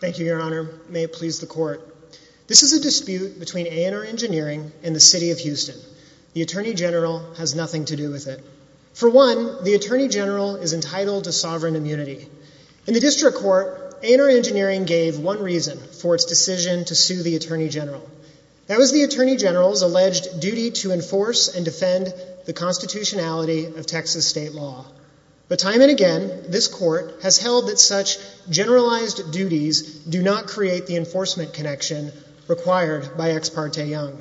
Thank you, Your Honor. May it please the Court. This is a dispute between A & R Engineering and the City of Houston. The Attorney General has nothing to do with it. For one, the Attorney General is entitled to sovereign immunity. In the District Court, A & R Engineering gave one reason for its decision to sue the Attorney General. That was the Attorney General's alleged duty to enforce and defend the constitutionality of Texas state law. But time and again, this Court has held that such generalized duties do not create the enforcement connection required by Ex parte Young.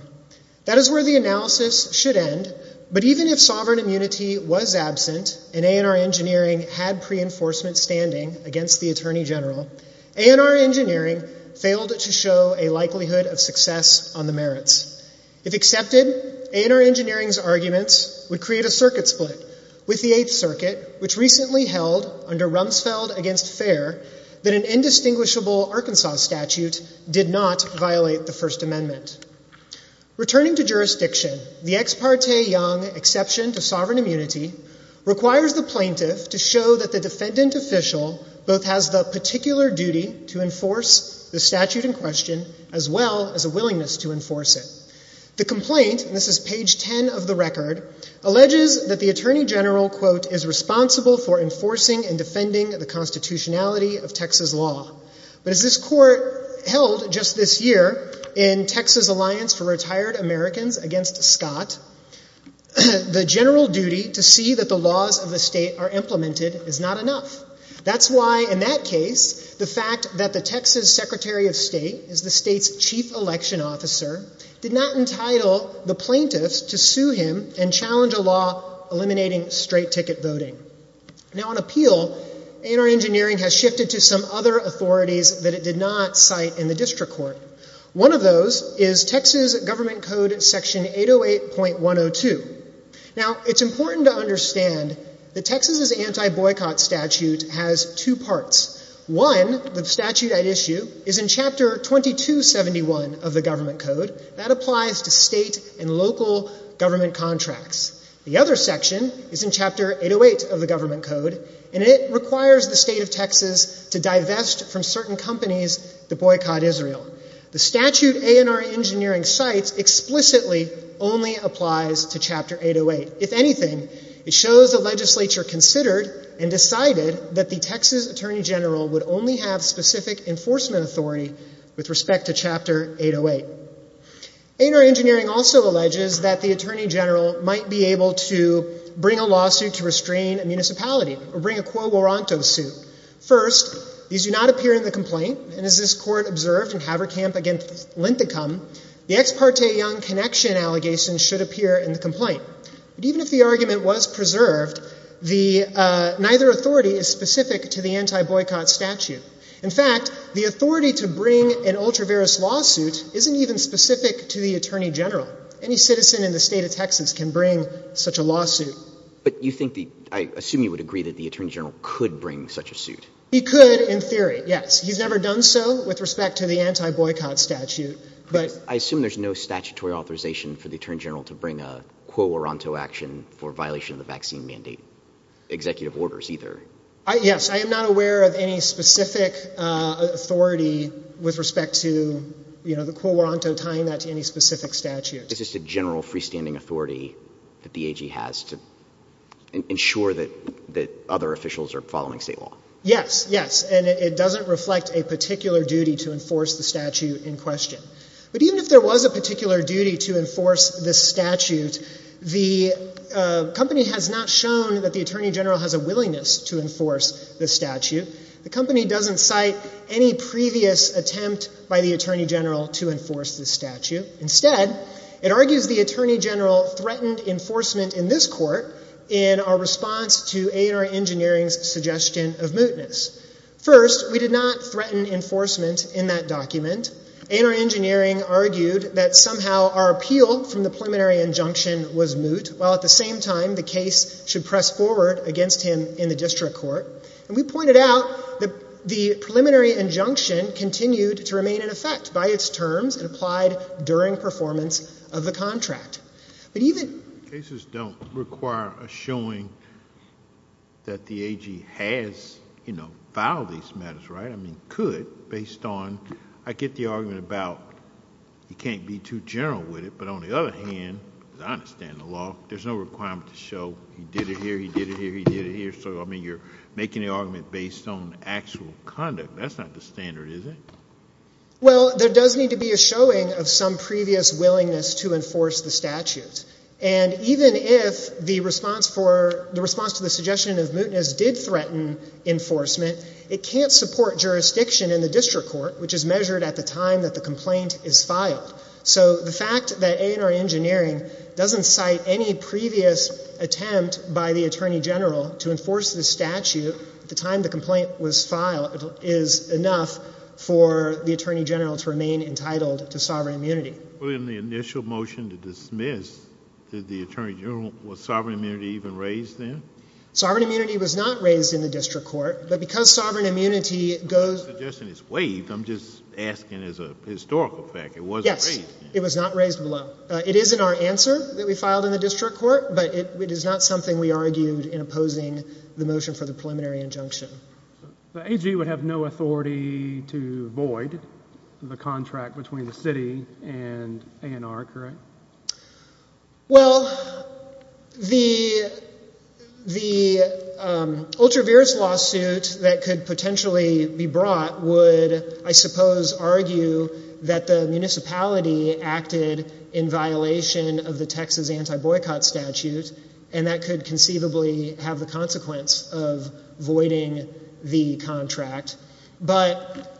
That is where the analysis should end, but even if sovereign immunity was absent and A & R Engineering had pre-enforcement standing against the Attorney General, A & R Engineering failed to show a likelihood of success on the merits. If accepted, A & R Engineering's arguments would create a circuit split with the Eighth Circuit, which recently held, under Rumsfeld v. Fair, that an indistinguishable Arkansas statute did not violate the First Amendment. Returning to jurisdiction, the Ex parte Young exception to sovereign immunity requires the plaintiff to show that the defendant official both has the particular duty to enforce the statute in question as well as a willingness to enforce it. The complaint, and this is the case, the Attorney General, quote, is responsible for enforcing and defending the constitutionality of Texas law. But as this Court held just this year in Texas Alliance for Retired Americans against Scott, the general duty to see that the laws of the state are implemented is not enough. That's why, in that case, the fact that the Texas Secretary of State is the state's chief election officer did not entitle the plaintiffs to sue him and challenge a law eliminating straight ticket voting. Now, on appeal, A & R Engineering has shifted to some other authorities that it did not cite in the district court. One of those is Texas Government Code Section 808.102. Now, it's important to understand that Texas's anti-boycott statute has two parts. One, the statute at issue, is in Chapter 2271 of the Government Code. That applies to state and local contracts. The other section is in Chapter 808 of the Government Code, and it requires the state of Texas to divest from certain companies that boycott Israel. The statute A & R Engineering cites explicitly only applies to Chapter 808. If anything, it shows the legislature considered and decided that the Texas Attorney General would only have specific enforcement authority with respect to Chapter 808. A & R Engineering also alleges that the Attorney General might be able to bring a lawsuit to restrain a municipality, or bring a quo moroncto suit. First, these do not appear in the complaint, and as this court observed in Haverkamp v. Linthicum, the ex parte Young Connection allegation should appear in the complaint. But even if the argument was preserved, neither authority is specific to the anti-boycott statute. In fact, the authority to bring an ultra-various lawsuit isn't even specific to the Attorney General. Any citizen in the state of Texas can bring such a lawsuit. But you think, I assume you would agree that the Attorney General could bring such a suit? He could, in theory, yes. He's never done so with respect to the anti-boycott statute. I assume there's no statutory authorization for the Attorney General to bring a quo moroncto action for violation of the vaccine mandate executive orders, either? Yes, I am not aware of any specific authority with respect to the quo moroncto tying that to any specific statute. It's just a general freestanding authority that the AG has to ensure that other officials are following state law? Yes, yes. And it doesn't reflect a particular duty to enforce the statute in question. But even if there was a particular duty to enforce this statute, the company has not shown that the Attorney General has a willingness to enforce the statute. The company doesn't cite any previous attempt by the Attorney General to enforce the statute. Instead, it argues the Attorney General threatened enforcement in this court in our response to A&R Engineering's suggestion of mootness. First, we did not threaten enforcement in that document. A&R Engineering argued that somehow our appeal from the preliminary injunction was moot, while at the same time the case should press forward against him in the district court. And we pointed out that the preliminary injunction continued to remain in effect by its terms and applied during performance of the contract. Cases don't require a showing that the AG has, you know, filed these matters, right? I mean, could, based on, I get the argument about he can't be too general with it, but on the other hand, because I understand the law, there's no requirement to show he did it here, he did it here, he did it here. So, I mean, you're making the argument based on actual conduct. That's not the standard, is it? Well, there does need to be a showing of some previous willingness to enforce the statute. And even if the response for, the response to the suggestion of mootness did threaten enforcement, it can't support jurisdiction in the district court, which is measured at the time that the complaint is filed. So, the fact that A&R Engineering doesn't cite any previous attempt by the Attorney General to enforce the statute at the time the complaint was filed is enough for the Attorney General to remain entitled to sovereign immunity. Well, in the initial motion to dismiss, did the Attorney General, was sovereign immunity even raised then? Sovereign immunity was not raised in the district court, but because sovereign immunity goes I'm not suggesting it's waived, I'm just asking as a historical fact, it wasn't raised. Yes, it was not raised below. It is in our answer that we filed in the district court, but it is not something we argued in opposing the motion for the preliminary injunction. The AG would have no authority to void the contract between the city and A&R, correct? Well, the ultra-virus lawsuit that could potentially be brought would, I suppose, argue that the municipality acted in violation of the Texas anti-boycott statute, and that could conceivably have the consequence of voiding the contract, but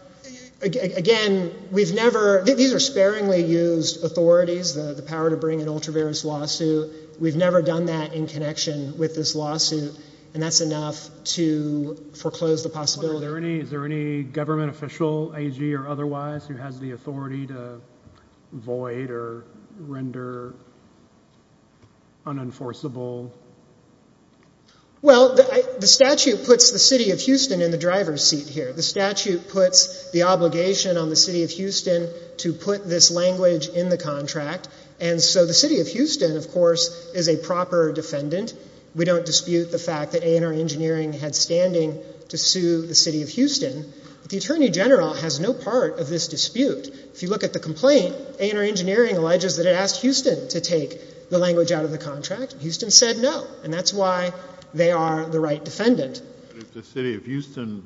again, we've never, these are sparingly used authorities, the power to bring an ultra-virus lawsuit, we've never done that in connection with this lawsuit, and that's enough to foreclose the possibility. Is there any government official, AG or otherwise, who has the authority to void or render unenforceable? Well, the statute puts the city of Houston in the driver's seat here. The statute puts the obligation on the city of Houston to put this language in the contract, and so the city of Houston, of course, is a proper defendant. We don't dispute the fact that A&R Engineering had standing to sue the city of Houston, but the Attorney General has no part of this dispute. If you look at the complaint, A&R Engineering alleges that it asked Houston to take the language out of the contract. Houston said no, and that's why they are the right defendant. If the city of Houston,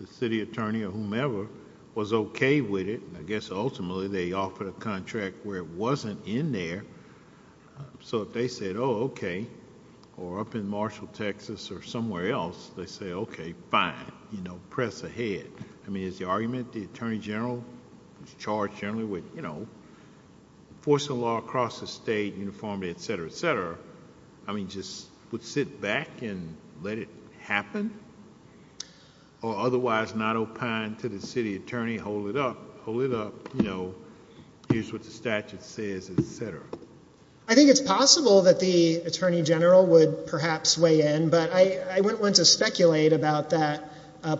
the city attorney or whomever, was okay with it, I guess ultimately they offered a contract where it wasn't in there, so if they said, oh, okay, or up in Marshall, Texas or somewhere else, they say, okay, fine, press ahead. I mean, is the argument the Attorney General is charged generally with enforcing the law across the state, uniformity, et cetera, et cetera, I mean, just would sit back and let it happen, or otherwise not opine to the city attorney, hold it up, hold it up, you know, here's what the statute says, et cetera? I think it's possible that the Attorney General would perhaps weigh in, but I wouldn't want to speculate about that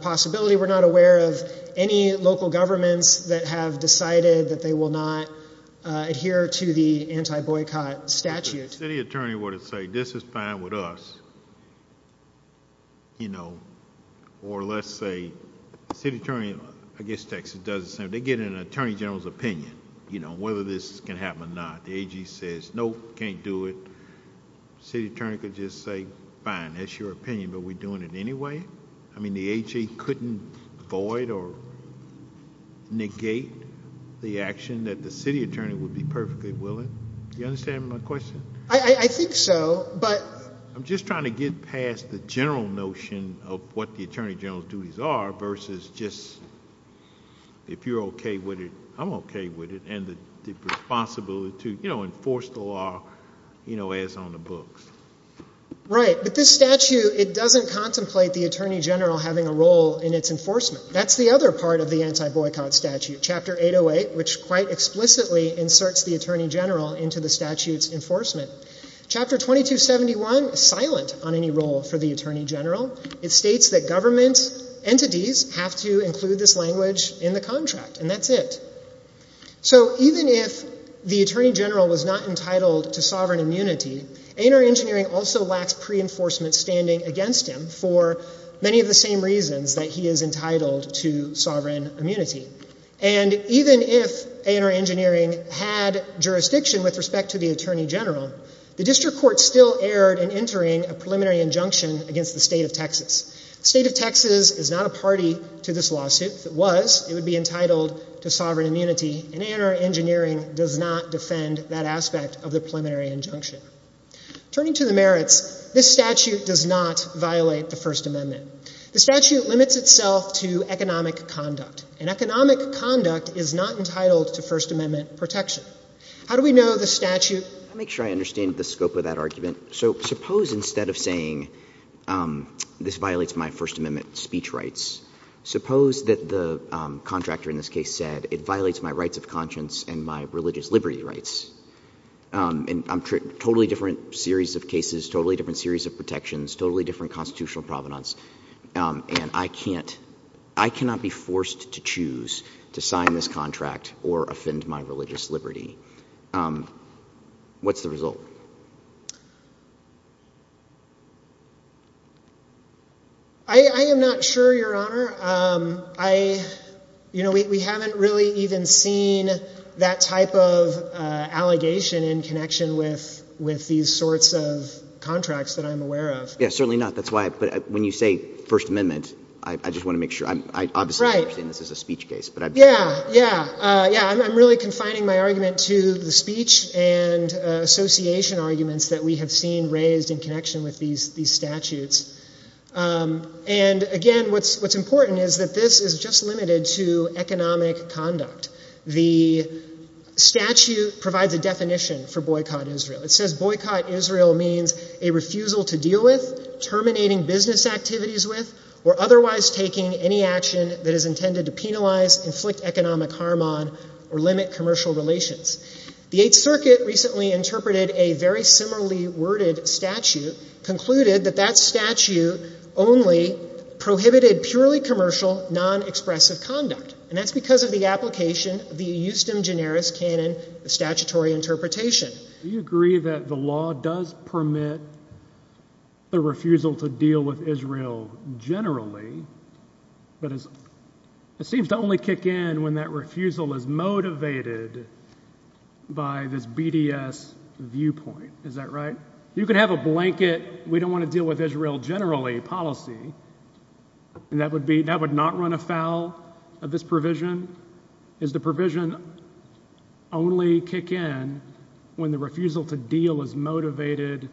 possibility. We're not aware of any local governments that have... The city attorney would have said, this is fine with us, or let's say the city attorney, I guess Texas does the same, they get an Attorney General's opinion, you know, whether this can happen or not. The AG says, no, can't do it. The city attorney could just say, fine, that's your opinion, but we're doing it anyway? I mean, the AG couldn't avoid or negate the action that the city attorney would be perfectly willing? Do you understand my question? I think so, but... I'm just trying to get past the general notion of what the Attorney General's duties are versus just, if you're okay with it, I'm okay with it, and the responsibility to, you know, enforce the law, you know, as on the books. Right. But this statute, it doesn't contemplate the Attorney General having a role in its enforcement. That's the other part of the anti-boycott statute, Chapter 808, which quite into the statute's enforcement. Chapter 2271 is silent on any role for the Attorney General. It states that government entities have to include this language in the contract, and that's it. So even if the Attorney General was not entitled to sovereign immunity, A&R Engineering also lacks pre-enforcement standing against him for many of the same reasons that he is entitled to sovereign immunity. And even if A&R Engineering had jurisdiction with respect to the Attorney General, the District Court still erred in entering a preliminary injunction against the state of Texas. The state of Texas is not a party to this lawsuit. If it was, it would be entitled to sovereign immunity, and A&R Engineering does not defend that aspect of the preliminary injunction. Turning to the merits, this statute does not violate the First Amendment. The statute limits itself to economic conduct, and economic conduct is not entitled to First Amendment protection. How do we know the statute — Let me make sure I understand the scope of that argument. So suppose instead of saying this violates my First Amendment speech rights, suppose that the contractor in this case said it violates my rights of conscience and my religious liberty rights. And I'm — totally different series of cases, totally different series of protections, totally different constitutional provenance, and I can't — I cannot be forced to choose to sign this contract or offend my religious liberty. What's the result? I am not sure, Your Honor. I — you know, we haven't really even seen that type of allegation in connection with these sorts of contracts that I'm aware of. Yeah, certainly not. That's why — but when you say First Amendment, I just want to make sure. I'm — I obviously understand this is a speech case, but I — Yeah, yeah, yeah. I'm really confining my argument to the speech and association arguments that we have seen raised in connection with these — these statutes. And again, what's important is that this is just limited to economic conduct. The statute provides a definition for boycott Israel. It says boycott Israel means a refusal to deal with, terminating business activities with, or otherwise taking any action that is intended to penalize, inflict economic harm on, or limit commercial relations. The Eighth Circuit recently interpreted a very similarly worded statute, concluded that that statute only prohibited purely commercial, non-expressive conduct. And that's because of the application of the Eustim generis canon of statutory interpretation. Do you agree that the law does permit the refusal to deal with Israel generally, but it seems to only kick in when that refusal is motivated by this BDS viewpoint. Is that right? You could have a blanket, we don't want to deal with Israel generally policy, and that would be — that would not run afoul of this provision? Is the provision only kick in when the refusal to deal is motivated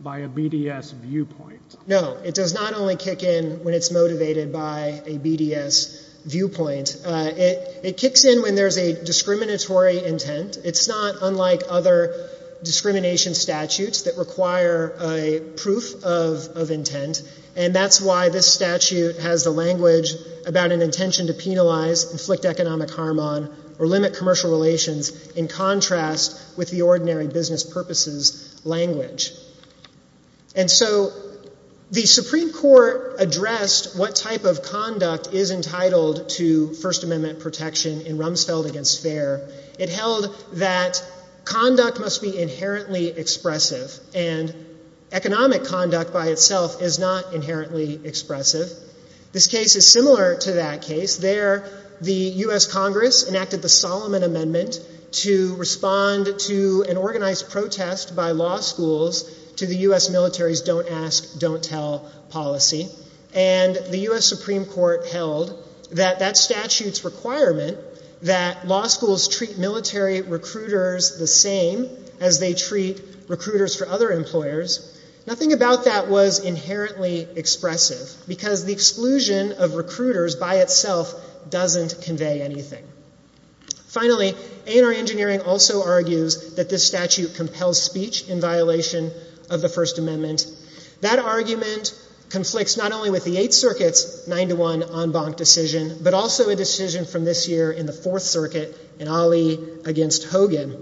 by a BDS viewpoint? No, it does not only kick in when it's motivated by a BDS viewpoint. It kicks in when there's a discriminatory intent. It's not unlike other discrimination statutes that require a proof of intent, and that's why this statute has the language about an intention to penalize, inflict economic harm on, or limit commercial relations in contrast with the ordinary business purposes language. And so the Supreme Court addressed what type of conduct is entitled to First Amendment protection in Rumsfeld v. Fair. It held that conduct must be inherently expressive, and economic conduct by itself is not inherently expressive. This case is similar to that case. There, the U.S. Congress enacted the Solomon Amendment to respond to an organized protest by law schools to the U.S. military's don't ask, don't tell policy, and the U.S. Supreme Court held that that statute's requirement that law schools treat military recruiters the same as they treat recruiters for other employers, nothing about that was inherently expressive because the exclusion of recruiters by itself doesn't convey anything. Finally, A&R Engineering also argues that this statute compels speech in violation of the First Amendment. That argument conflicts not only with the Eighth Circuit's 9-1 en and Ali v. Hogan.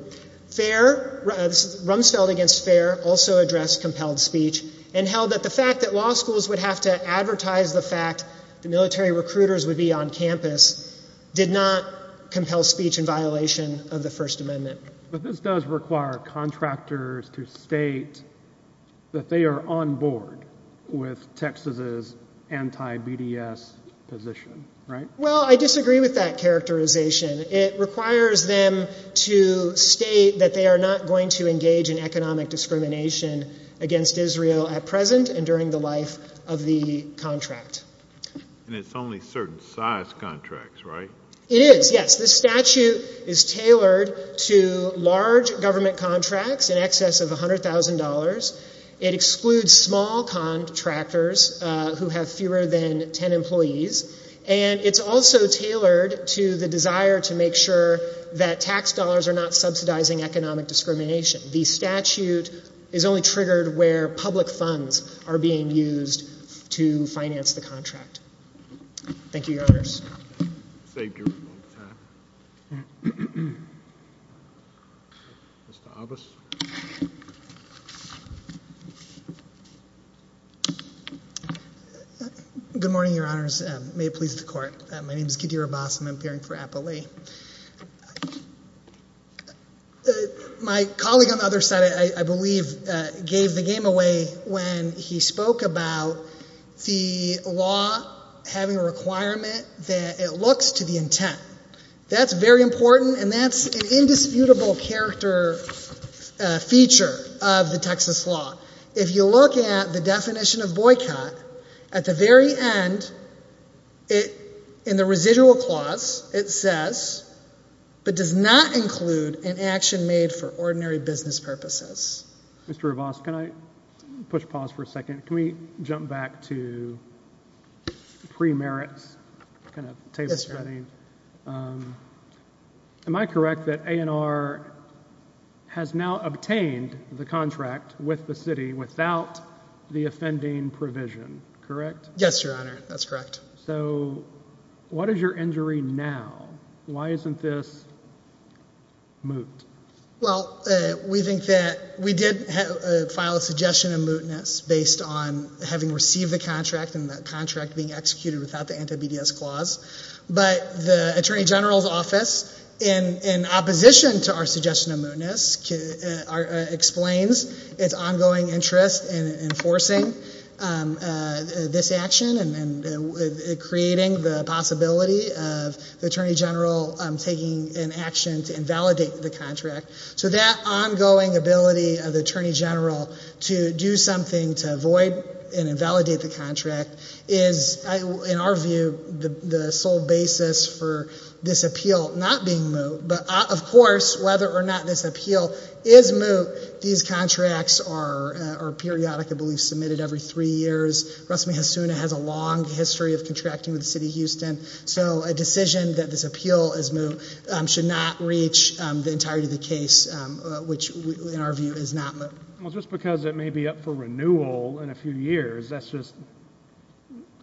Rumsfeld v. Fair also addressed compelled speech and held that the fact that law schools would have to advertise the fact that military recruiters would be on campus did not compel speech in violation of the First Amendment. But this does require contractors to state that they are on board with Texas's anti-BDS position, right? Well, I disagree with that characterization. It requires them to state that they are not going to engage in economic discrimination against Israel at present and during the life of the contract. And it's only certain size contracts, right? It is, yes. This statute is tailored to large government contracts in excess of $100,000. It excludes small contractors who have fewer than 10 employees. And it's also tailored to the desire to make sure that tax dollars are not subsidizing economic discrimination. The statute is only triggered where public funds are being used to finance the contract. Thank you, Your Honors. Mr. Abbas. Good morning, Your Honors. May it please the Court. My name is Kadir Abbas. I'm appearing for Applea. My colleague on the other side, I believe, gave the game away when he spoke about the law having a requirement that it looks to the intent. That's very important, and that's an indisputable character feature of the Texas law. If you look at the definition of boycott, at the very end, in the residual clause, it says, but does not include an action made for ordinary business purposes. Mr. Abbas, can I push pause for a second? Can we jump back to pre-merits? Yes, Your Honor. Am I correct that A&R has now obtained the contract with the city without the offending provision, correct? Yes, Your Honor, that's correct. So, what is your injury now? Why isn't this moot? Well, we think that we did file a suggestion of mootness based on having received the contract and the contract being executed without the anti-BDS clause, but the Attorney General's office, in opposition to our suggestion of mootness, explains its ongoing interest in enforcing this action and creating the possibility of the Attorney General taking an action to invalidate the contract. So that ongoing ability of the Attorney General to do something to avoid and invalidate the contract is, in our view, the sole basis for this appeal not being moot. But, of course, whether or not this appeal is moot, these contracts are periodically submitted every three years. Rusme Hasuna has a long history of contracting with the case, which, in our view, is not moot. Well, just because it may be up for renewal in a few years, that's just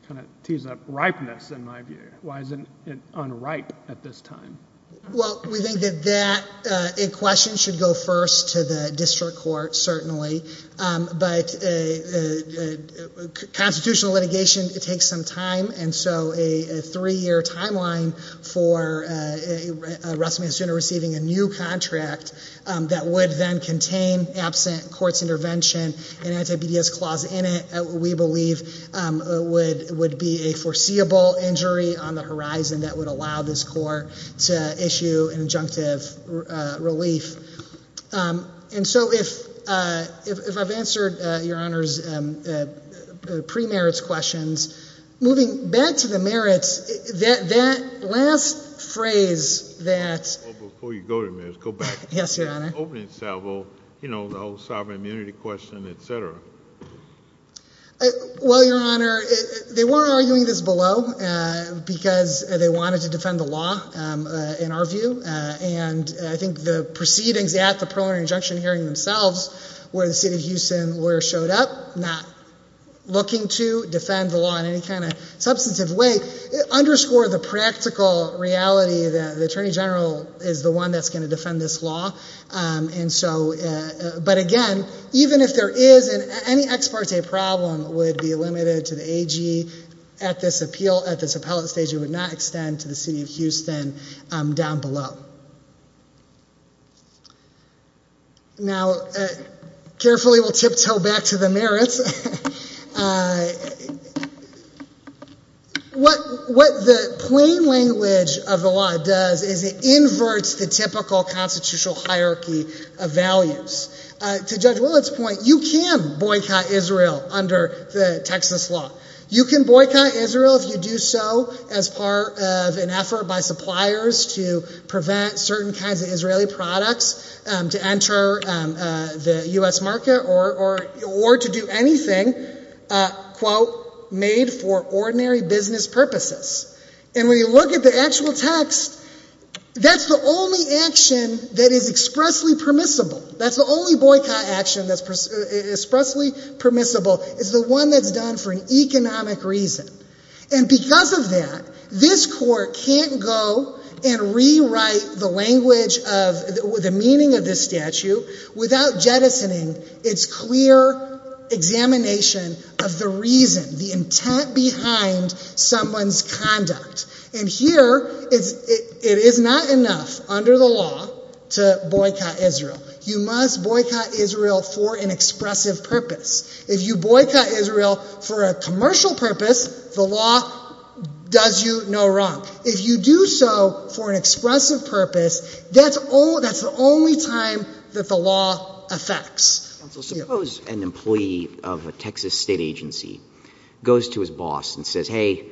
kind of tees up ripeness, in my view. Why isn't it unripe at this time? Well, we think that that question should go first to the district court, certainly. But constitutional litigation takes some time, and so a three-year timeline for Rusme Hasuna receiving a new contract that would then contain absent courts intervention and anti-BDS clause in it, we believe would be a foreseeable injury on the horizon that would allow this court to issue an injunctive relief. And so if I've answered Your Honor's pre-merits questions, moving back to the merits, that last phrase that... Before you go to merits, go back to the opening salvo, you know, the whole sovereign immunity question, et cetera. Well, Your Honor, they weren't arguing this below because they wanted to defend the law, in our view. And I think the proceedings at the preliminary injunction hearing themselves, where the state of Houston lawyers showed up, not looking to defend the law in any kind of substantive way, underscore the practical reality that the Attorney General is the one that's going to defend this law. But again, even if there is any ex parte problem, it would be limited to the AG at this appellate stage. It would not extend to the city of Houston down below. Now, carefully we'll tiptoe back to the merits. What the plain language of the law does is it inverts the typical constitutional hierarchy of values. To Judge Willett's point, you can boycott Israel under the Texas law. You can boycott Israel if you do so as part of an effort by suppliers to prevent certain kinds of Israeli products to enter the U.S. market or to do anything, quote, made for ordinary business purposes. And when you look at the actual text, that's the only action that is expressly permissible. That's the only boycott action that's expressly permissible. It's the one that's done for economic reason. And because of that, this Court can't go and rewrite the language of the meaning of this statute without jettisoning its clear examination of the reason, the intent behind someone's conduct. And here, it is not enough under the law to boycott Israel. You must boycott Israel for an expressive purpose. If you boycott Israel for a commercial purpose, the law does you no wrong. If you do so for an expressive purpose, that's the only time that the law affects. So suppose an employee of a Texas state agency goes to his boss and says, hey,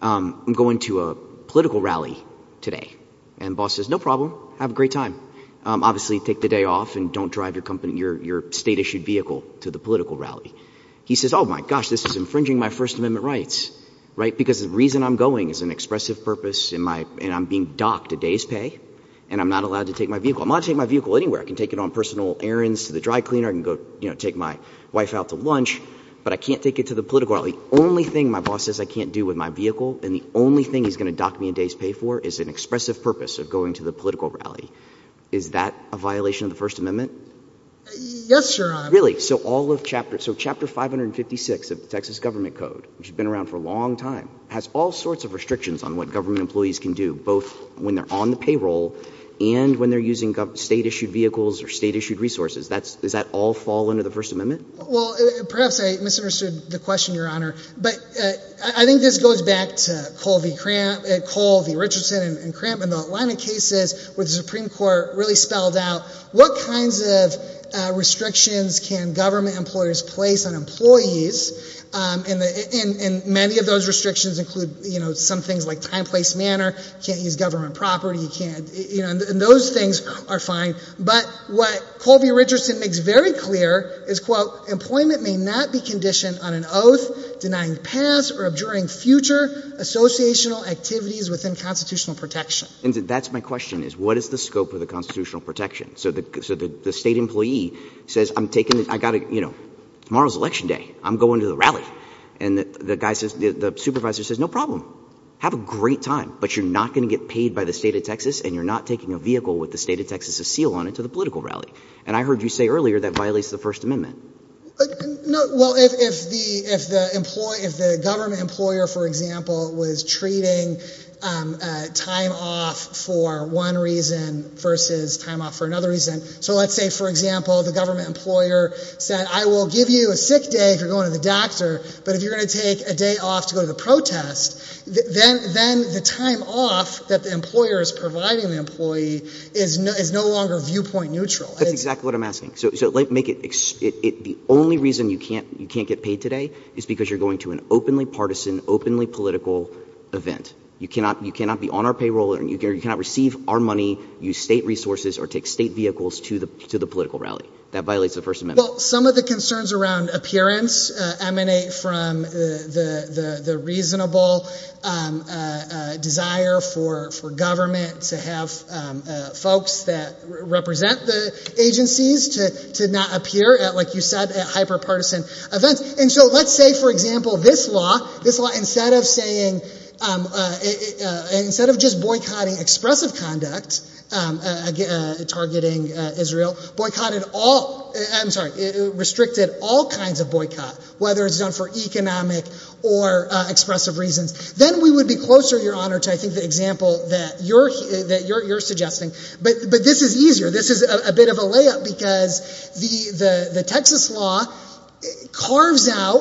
I'm going to a political rally today. And the boss says, no problem. Have a great time. Obviously take the day off and don't drive your state-issued vehicle to the political rally. He says, oh, my gosh, this is infringing my First Amendment rights, right, because the reason I'm going is an expressive purpose, and I'm being docked a day's pay, and I'm not allowed to take my vehicle. I'm allowed to take my vehicle anywhere. I can take it on personal errands to the dry cleaner. I can go take my wife out to lunch. But I can't take it to the political rally. The only thing my boss says I can't do with my vehicle and the only thing he's going to dock me a day's pay for is an expressive purpose of going to the political rally. Is that a violation of the First Amendment? Yes, Your Honor. Really? So all of Chapter — so Chapter 556 of the Texas Government Code, which has been around for a long time, has all sorts of restrictions on what government employees can do, both when they're on the payroll and when they're using state-issued vehicles or state-issued resources. That's — does that all fall under the First Amendment? Well, perhaps I misunderstood the question, Your Honor. But I think this goes back to Colby Richardson and Cramp in the Atlanta cases where the Supreme Court really spelled out what kinds of restrictions can government employers place on employees. And many of those restrictions include, you know, some things like time, place, manner. You can't use government property. You can't — you know, and those things are fine. But what Colby Richardson makes very clear is, quote, employment may not be conditioned on an association of activities within constitutional protection. And that's my question, is what is the scope of the constitutional protection? So the state employee says, I'm taking — I got to — you know, tomorrow's Election Day. I'm going to the rally. And the guy says — the supervisor says, no problem. Have a great time. But you're not going to get paid by the state of Texas, and you're not taking a vehicle with the state of Texas' seal on it to the political rally. And I heard you say earlier that violates the First Amendment. No. Well, if the employee — if the government employer, for example, was treating time off for one reason versus time off for another reason — so let's say, for example, the government employer said, I will give you a sick day if you're going to the doctor, but if you're going to take a day off to go to the protest, then the time off that the employer is providing the employee is no longer viewpoint neutral. That's exactly what I'm asking. So make it — the only reason you can't get paid today is because you're going to an openly partisan, openly political event. You cannot be on our payroll, and you cannot receive our money, use state resources, or take state vehicles to the political rally. That violates the First Amendment. Well, some of the concerns around appearance emanate from the reasonable desire for government to have folks that represent the agencies to not appear, like you said, at hyper-partisan events. And so let's say, for example, this law, instead of saying — instead of just boycotting expressive conduct targeting Israel, boycotted all — I'm sorry — restricted all kinds of boycott, whether it's done for economic or expressive reasons. Then we would be closer, Your Honor, to I think the example that you're suggesting. But this is easier. This is a bit of a layup because the Texas law carves out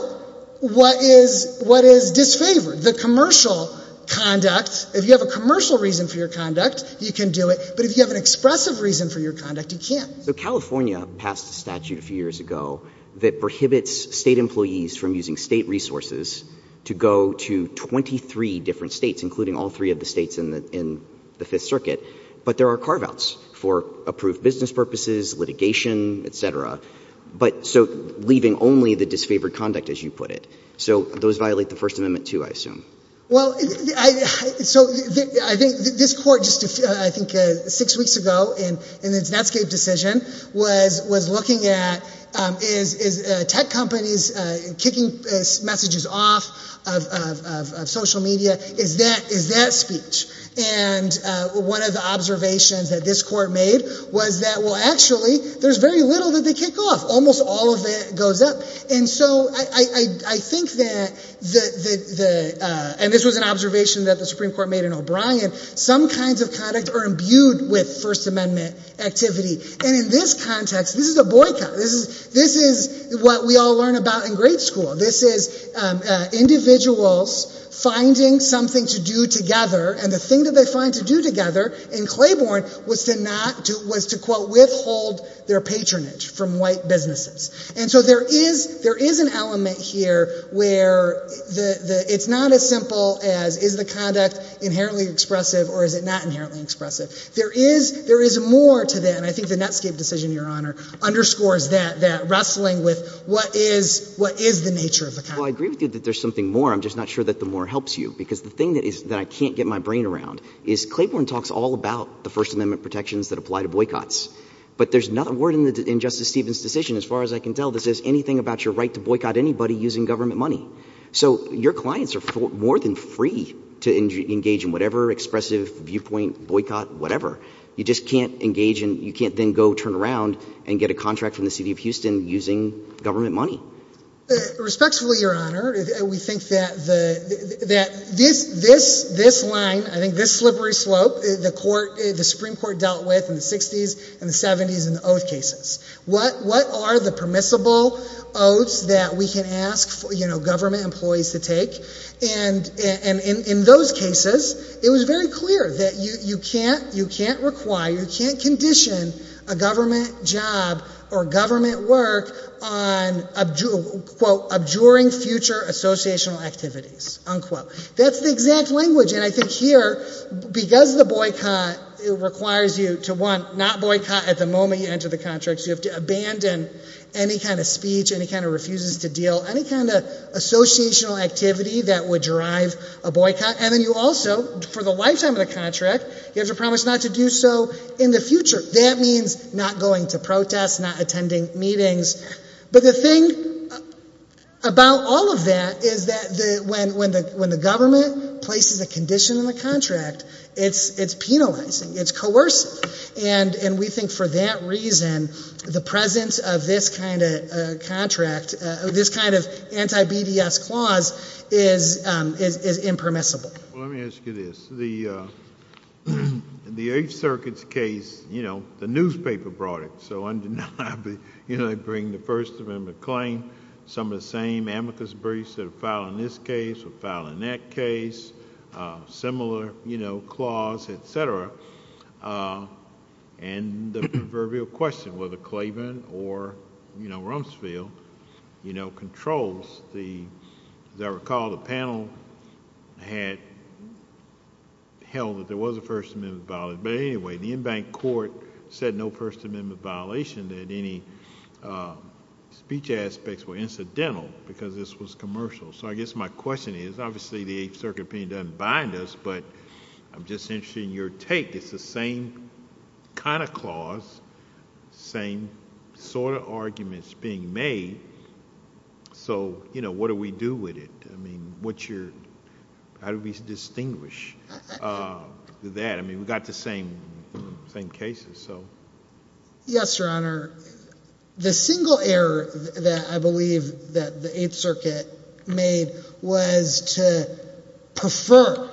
what is disfavored, the commercial conduct. If you have a commercial reason for your conduct, you can do it. But if you have an expressive reason for your conduct, you can't. So California passed a statute a few years ago that prohibits state employees from using state resources to go to 23 different states, including all three of the states in the Fifth Circuit. But there are carve-outs for approved business purposes, litigation, et cetera. But — so leaving only the disfavored conduct, as you put it. So those violate the First Amendment, too, I assume. Well, I — so I think this Court just, I think, six weeks ago in its Netscape decision was looking at, is tech companies kicking messages off of social media? Is that speech? And one of the observations that this Court made was that, well, actually, there's very little that they kick off. Almost all of it goes up. And so I think that the — and this was an observation that the Supreme Court made in O'Brien — some kinds of conduct are imbued with First Amendment activity. And in this context, this is a boycott. This is what we all learn about in grade school. This is individuals finding something to do together. And the thing that they find to do together in Claiborne was to not — was to, quote, withhold their patronage from white businesses. And so there is — there is an element here where the — it's not as simple as, is the conduct inherently expressive or is it not inherently expressive? There is — there is more to that. And I think the Netscape decision, Your Honor, underscores that, that wrestling with what is — what is the nature of the conduct. Well, I agree with you that there's something more. I'm just not sure that the more helps you. Because the thing that is — that I can't get my brain around is Claiborne talks all about the First Amendment protections that apply to boycotts. But there's not a word in Justice Stevens' decision, as far as I can tell, that says anything about your right to boycott anybody using government money. So your clients are more than free to engage in whatever expressive viewpoint, boycott, whatever. You just can't engage in — you can't then go turn around and get a contract from the city of Houston using government money. Respectfully, Your Honor, we think that the — that this — this — this line, I think this slippery slope, the court — the Supreme Court dealt with in the 60s and the 70s in what are the permissible oaths that we can ask, you know, government employees to take. And in those cases, it was very clear that you can't — you can't require, you can't condition a government job or government work on, quote, abjuring future associational activities, unquote. That's the exact language. And I think here, because the boycott requires you to, one, not boycott at the moment you have to abandon any kind of speech, any kind of refuses to deal, any kind of associational activity that would drive a boycott. And then you also, for the lifetime of the contract, you have to promise not to do so in the future. That means not going to protests, not attending meetings. But the thing about all of that is that the — when the government places a condition in the contract, it's penalizing. It's coercive. And we think for that reason, the presence of this kind of contract, this kind of anti-BDS clause is impermissible. Well, let me ask you this. The Eighth Circuit's case, you know, the newspaper brought it, so undeniably, you know, they bring the First Amendment claim, some of the same amicus briefs that are filed in this case or filed in that case, similar, you know, clause, et cetera. And the proverbial question, whether Claiborne or, you know, Rumsfeld, you know, controls the... as I recall, the panel had held that there was a First Amendment violation. But anyway, the embanked court said no First Amendment violation, that any speech aspects were incidental because this was commercial. So I guess my question is, obviously the Eighth Circuit opinion doesn't bind us, but I'm just interested in your take. It's the same kind of clause, same sort of arguments being made. So, you know, what do we do with it? I mean, what's your... how do we distinguish that? I mean, we've got the same cases, so... Yes, Your Honor. The single error that I believe that the Eighth Circuit made was to prefer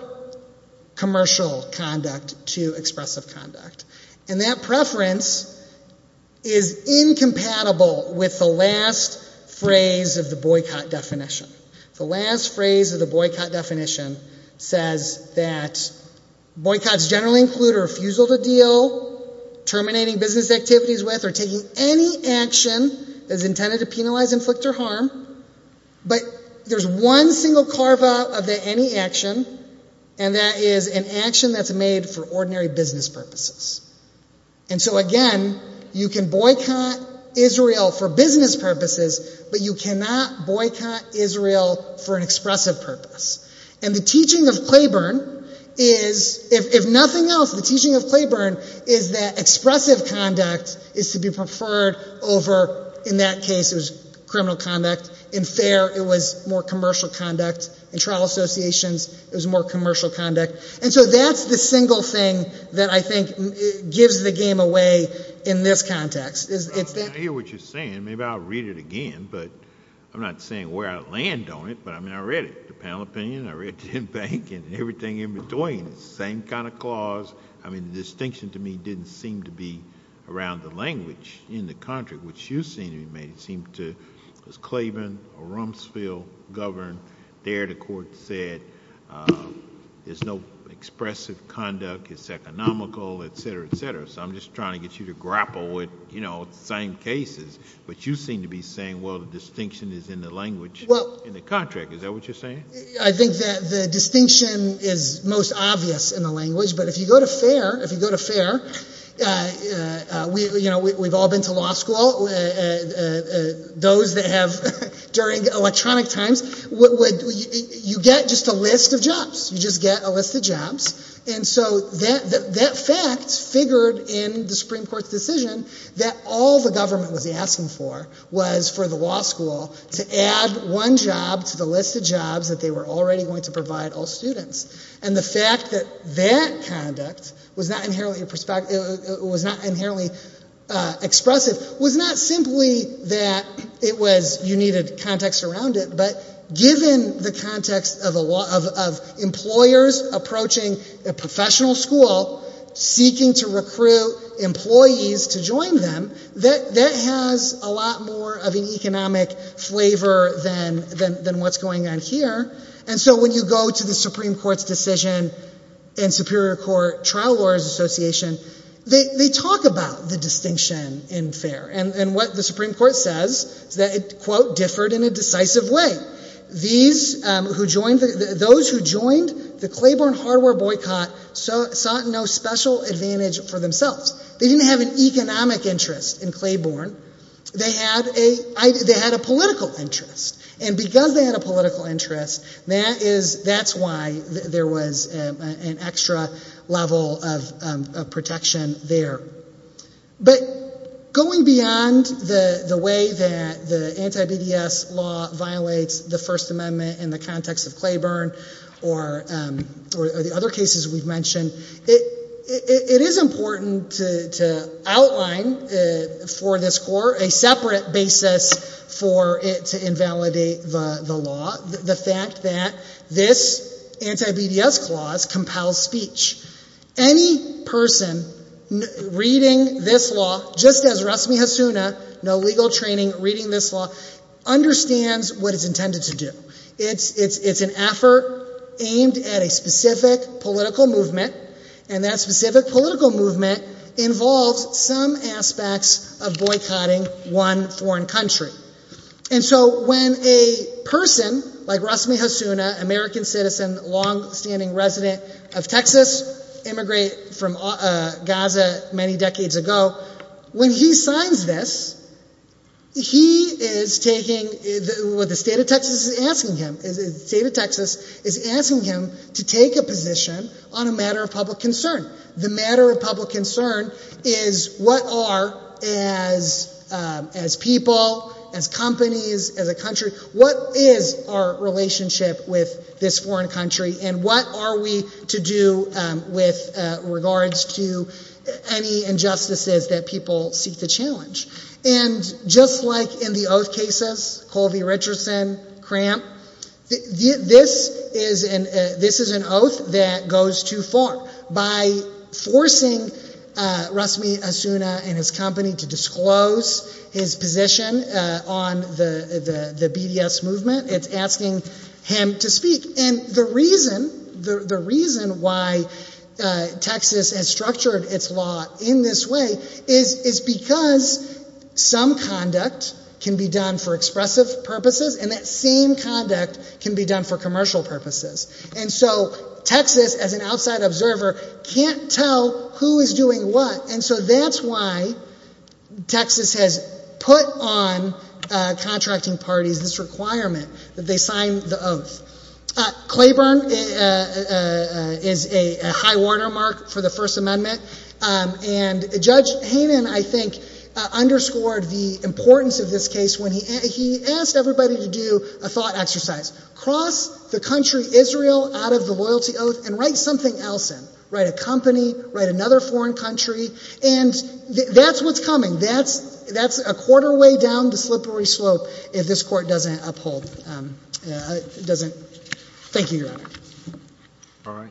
commercial conduct to expressive conduct. And that preference is incompatible with the last phrase of the boycott definition. The last phrase of the boycott definition says that boycotts generally include a refusal to deal, terminating business activities with, or taking any action that is intended to penalize, inflict, or harm. But there's one single carve-out of the any action, and that is an action that's made for ordinary business purposes. And so, again, you can boycott Israel for business purposes, but you cannot boycott Israel for an expressive purpose. And the teaching of Claiborne is, if nothing else, the teaching of Claiborne is that expressive conduct is to be preferred over, in that case, it was criminal conduct. In fair, it was more commercial conduct. In trial associations, it was more commercial conduct. And so that's the single thing that I think gives the game away in this context. I hear what you're saying. Maybe I'll read it again, but I'm not saying where I land on it, but I mean, I read it, the panel opinion. I read it in bank and everything in between. Same kind of clause. I mean, the distinction to me didn't seem to be around the language in the contract, which you seem to have made. It seemed to... was Claiborne or Rumsfeld governed. There, the court said, there's no expressive conduct. It's economical, etc., etc. So I'm just trying to get you to grapple with the same cases. But you seem to be saying, well, the distinction is in the language in the contract. Is that what you're saying? I think that the distinction is most obvious in the language. But if you go to fair, we've all been to law school. Those that have... during electronic times, you get just a list of jobs. You just get a list of jobs. And so that fact figured in the Supreme Court's decision that all the government was asking for was for the law school to add one job to the list of jobs that they were already going to provide all students. And the fact that that conduct was not inherently expressive was not simply that it was... you needed context around it, but given the context of employers approaching a professional school, seeking to recruit employees to join them, that has a lot more of an economic flavor than what's going on here. And so when you go to the Supreme Court's decision and Superior Court Trial Lawyers Association, they talk about the distinction in fair. And what the Supreme Court says is that it, quote, differed in a decisive way. Those who joined the Claiborne Hardware Boycott sought no special advantage for themselves. They didn't have an economic interest in Claiborne. They had a political interest. And because they had a political interest, that's why there was an extra level of protection there. But going beyond the way that the anti-BDS law violates the First Amendment in the context of Claiborne or the other cases we've mentioned, it is important to outline for this court a separate basis for it to invalidate the law, the fact that this anti-BDS clause compels speech. Any person reading this law, just as Rasmi Hassouna, no legal training reading this law, understands what it's intended to do. It's an effort aimed at a specific political movement, and that specific political movement involves some aspects of boycotting one foreign country. And so when a person like Rasmi Hassouna, American citizen, long-standing resident of Texas, immigrated from Gaza many decades ago, when he signs this, he is taking, the state of Texas is asking him to take a position on a matter of public concern. The matter of public concern is what are, as people, as companies, as a country, what is our relationship with this foreign country, and what are we to do with regards to any injustices that people seek to challenge. And just like in the oath cases, Colby, Richardson, Cramp, this is an oath that goes too far. By forcing Rasmi Hassouna and his company to disclose his position on the BDS movement, it's asking him to speak. And the reason why Texas has structured its law in this way is because some conduct can be done for expressive purposes, and that same conduct can be done for commercial purposes. And so Texas, as an outside observer, can't tell who is doing what, and so that's why Texas has put on contracting parties this requirement that they sign the oath. Claiborne is a high watermark for the First Amendment, and Judge Haynen, I think, underscored the importance of this case when he asked everybody to do a thought exercise. Cross the country Israel out of the loyalty oath and write something else in. Write a company, write another foreign country, and that's what's coming. So that's a quarter way down the slippery slope if this court doesn't uphold. Thank you, Your Honor.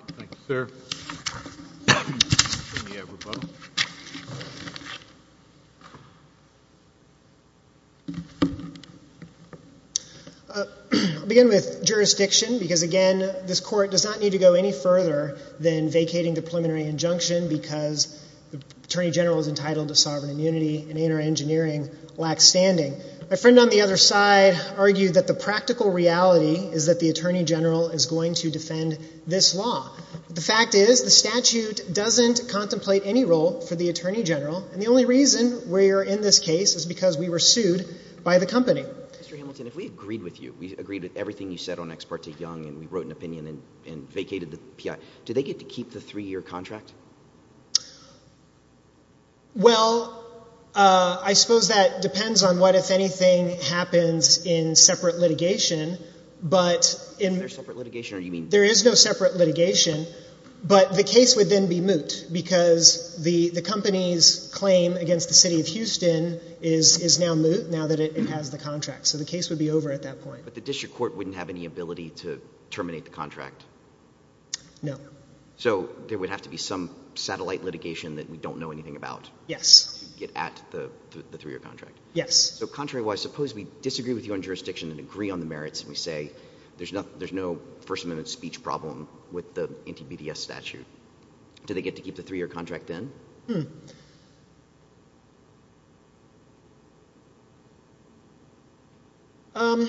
I'll begin with jurisdiction because, again, this court does not need to go any further than vacating the preliminary injunction because the Attorney General is entitled to sovereign immunity and interengineering lacks standing. My friend on the other side argued that the practical reality is that the Attorney General is going to defend this law. The fact is the statute doesn't contemplate any role for the Attorney General, and the only reason we are in this case is because we were sued by the company. Mr. Hamilton, if we agreed with you, we agreed with everything you said on Ex parte Young, and we wrote an opinion and vacated the PI, do they get to keep the three-year contract? Well, I suppose that depends on what, if anything, happens in separate litigation. There's no separate litigation? There is no separate litigation, but the case would then be moot because the company's claim against the city of Houston is now moot now that it has the contract, so the case would be over at that point. But the district court wouldn't have any ability to terminate the contract? No. So there would have to be some satellite litigation that we don't know anything about to get at the three-year contract? Yes. So contrarywise, suppose we disagree with you on jurisdiction and agree on the merits, and we say there's no First Amendment speech problem with the anti-BDS statute. Do they get to keep the three-year contract then? I'm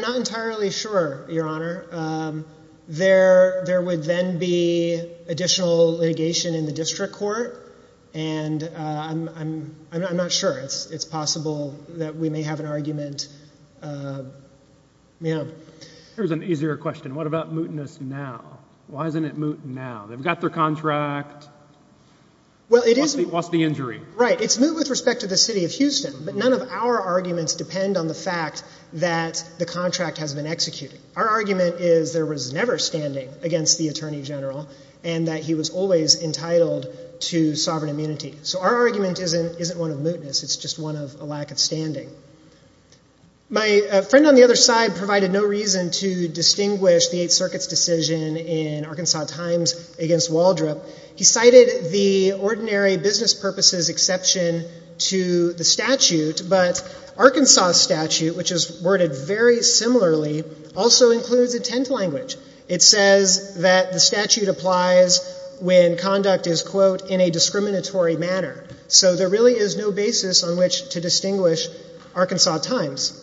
not entirely sure, Your Honor. There would then be additional litigation in the district court, and I'm not sure. It's possible that we may have an argument. Here's an easier question. What about mootness now? Why isn't it moot now? They've got their contract, lost the injury. Right. It's moot with respect to the city of Houston, but none of our arguments depend on the fact that the contract has been executed. Our argument is there was never standing against the attorney general and that he was always entitled to sovereign immunity. So our argument isn't one of mootness. It's just one of a lack of standing. My friend on the other side provided no reason to distinguish the Eighth Circuit's decision in Arkansas Times against Waldrop. He cited the ordinary business purposes exception to the statute, but Arkansas statute, which is worded very similarly, also includes intent language. It says that the statute applies when conduct is, quote, in a discriminatory manner. So there really is no basis on which to distinguish Arkansas Times.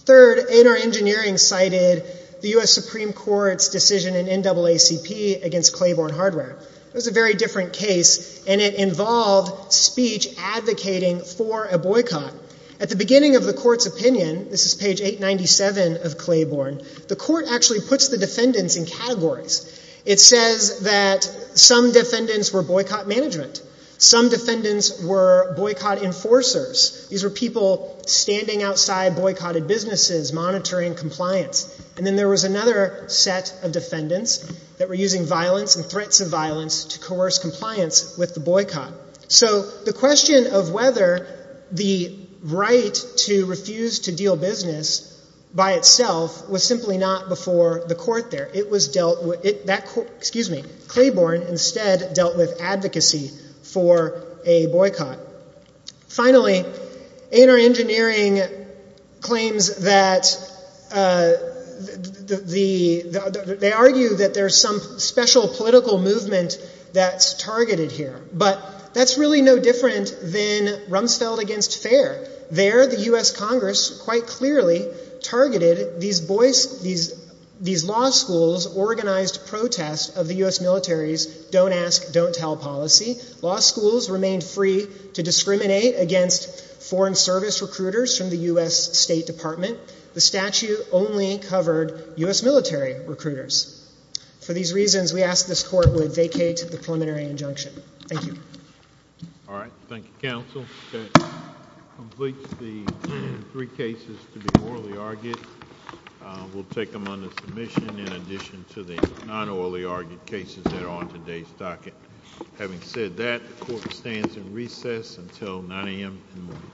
Third, A&R Engineering cited the U.S. Supreme Court's decision in NAACP against Claiborne Hardware. It was a very different case, and it involved speech advocating for a boycott. At the beginning of the court's opinion, this is page 897 of Claiborne, the court actually puts the defendants in categories. It says that some defendants were boycott management. Some defendants were boycott enforcers. These were people standing outside boycotted businesses monitoring compliance. And then there was another set of defendants that were using violence and threats of violence to coerce compliance with the boycott. So the question of whether the right to refuse to deal business by itself was simply not before the court there. Excuse me. Claiborne instead dealt with advocacy for a boycott. Finally, A&R Engineering claims that they argue that there's some special political movement that's targeted here. But that's really no different than Rumsfeld against Fair. There, the U.S. Congress quite clearly targeted these law schools' organized protest of the U.S. military's don't ask, don't tell policy. Law schools remained free to discriminate against foreign service recruiters from the U.S. State Department. The statute only covered U.S. military recruiters. For these reasons, we ask this court would vacate the preliminary injunction. Thank you. All right. Thank you, counsel. That completes the three cases to be orally argued. We'll take them under submission in addition to the non-orally argued cases that are on today's docket. Having said that, the court stands in recess until 9 a.m. in the morning.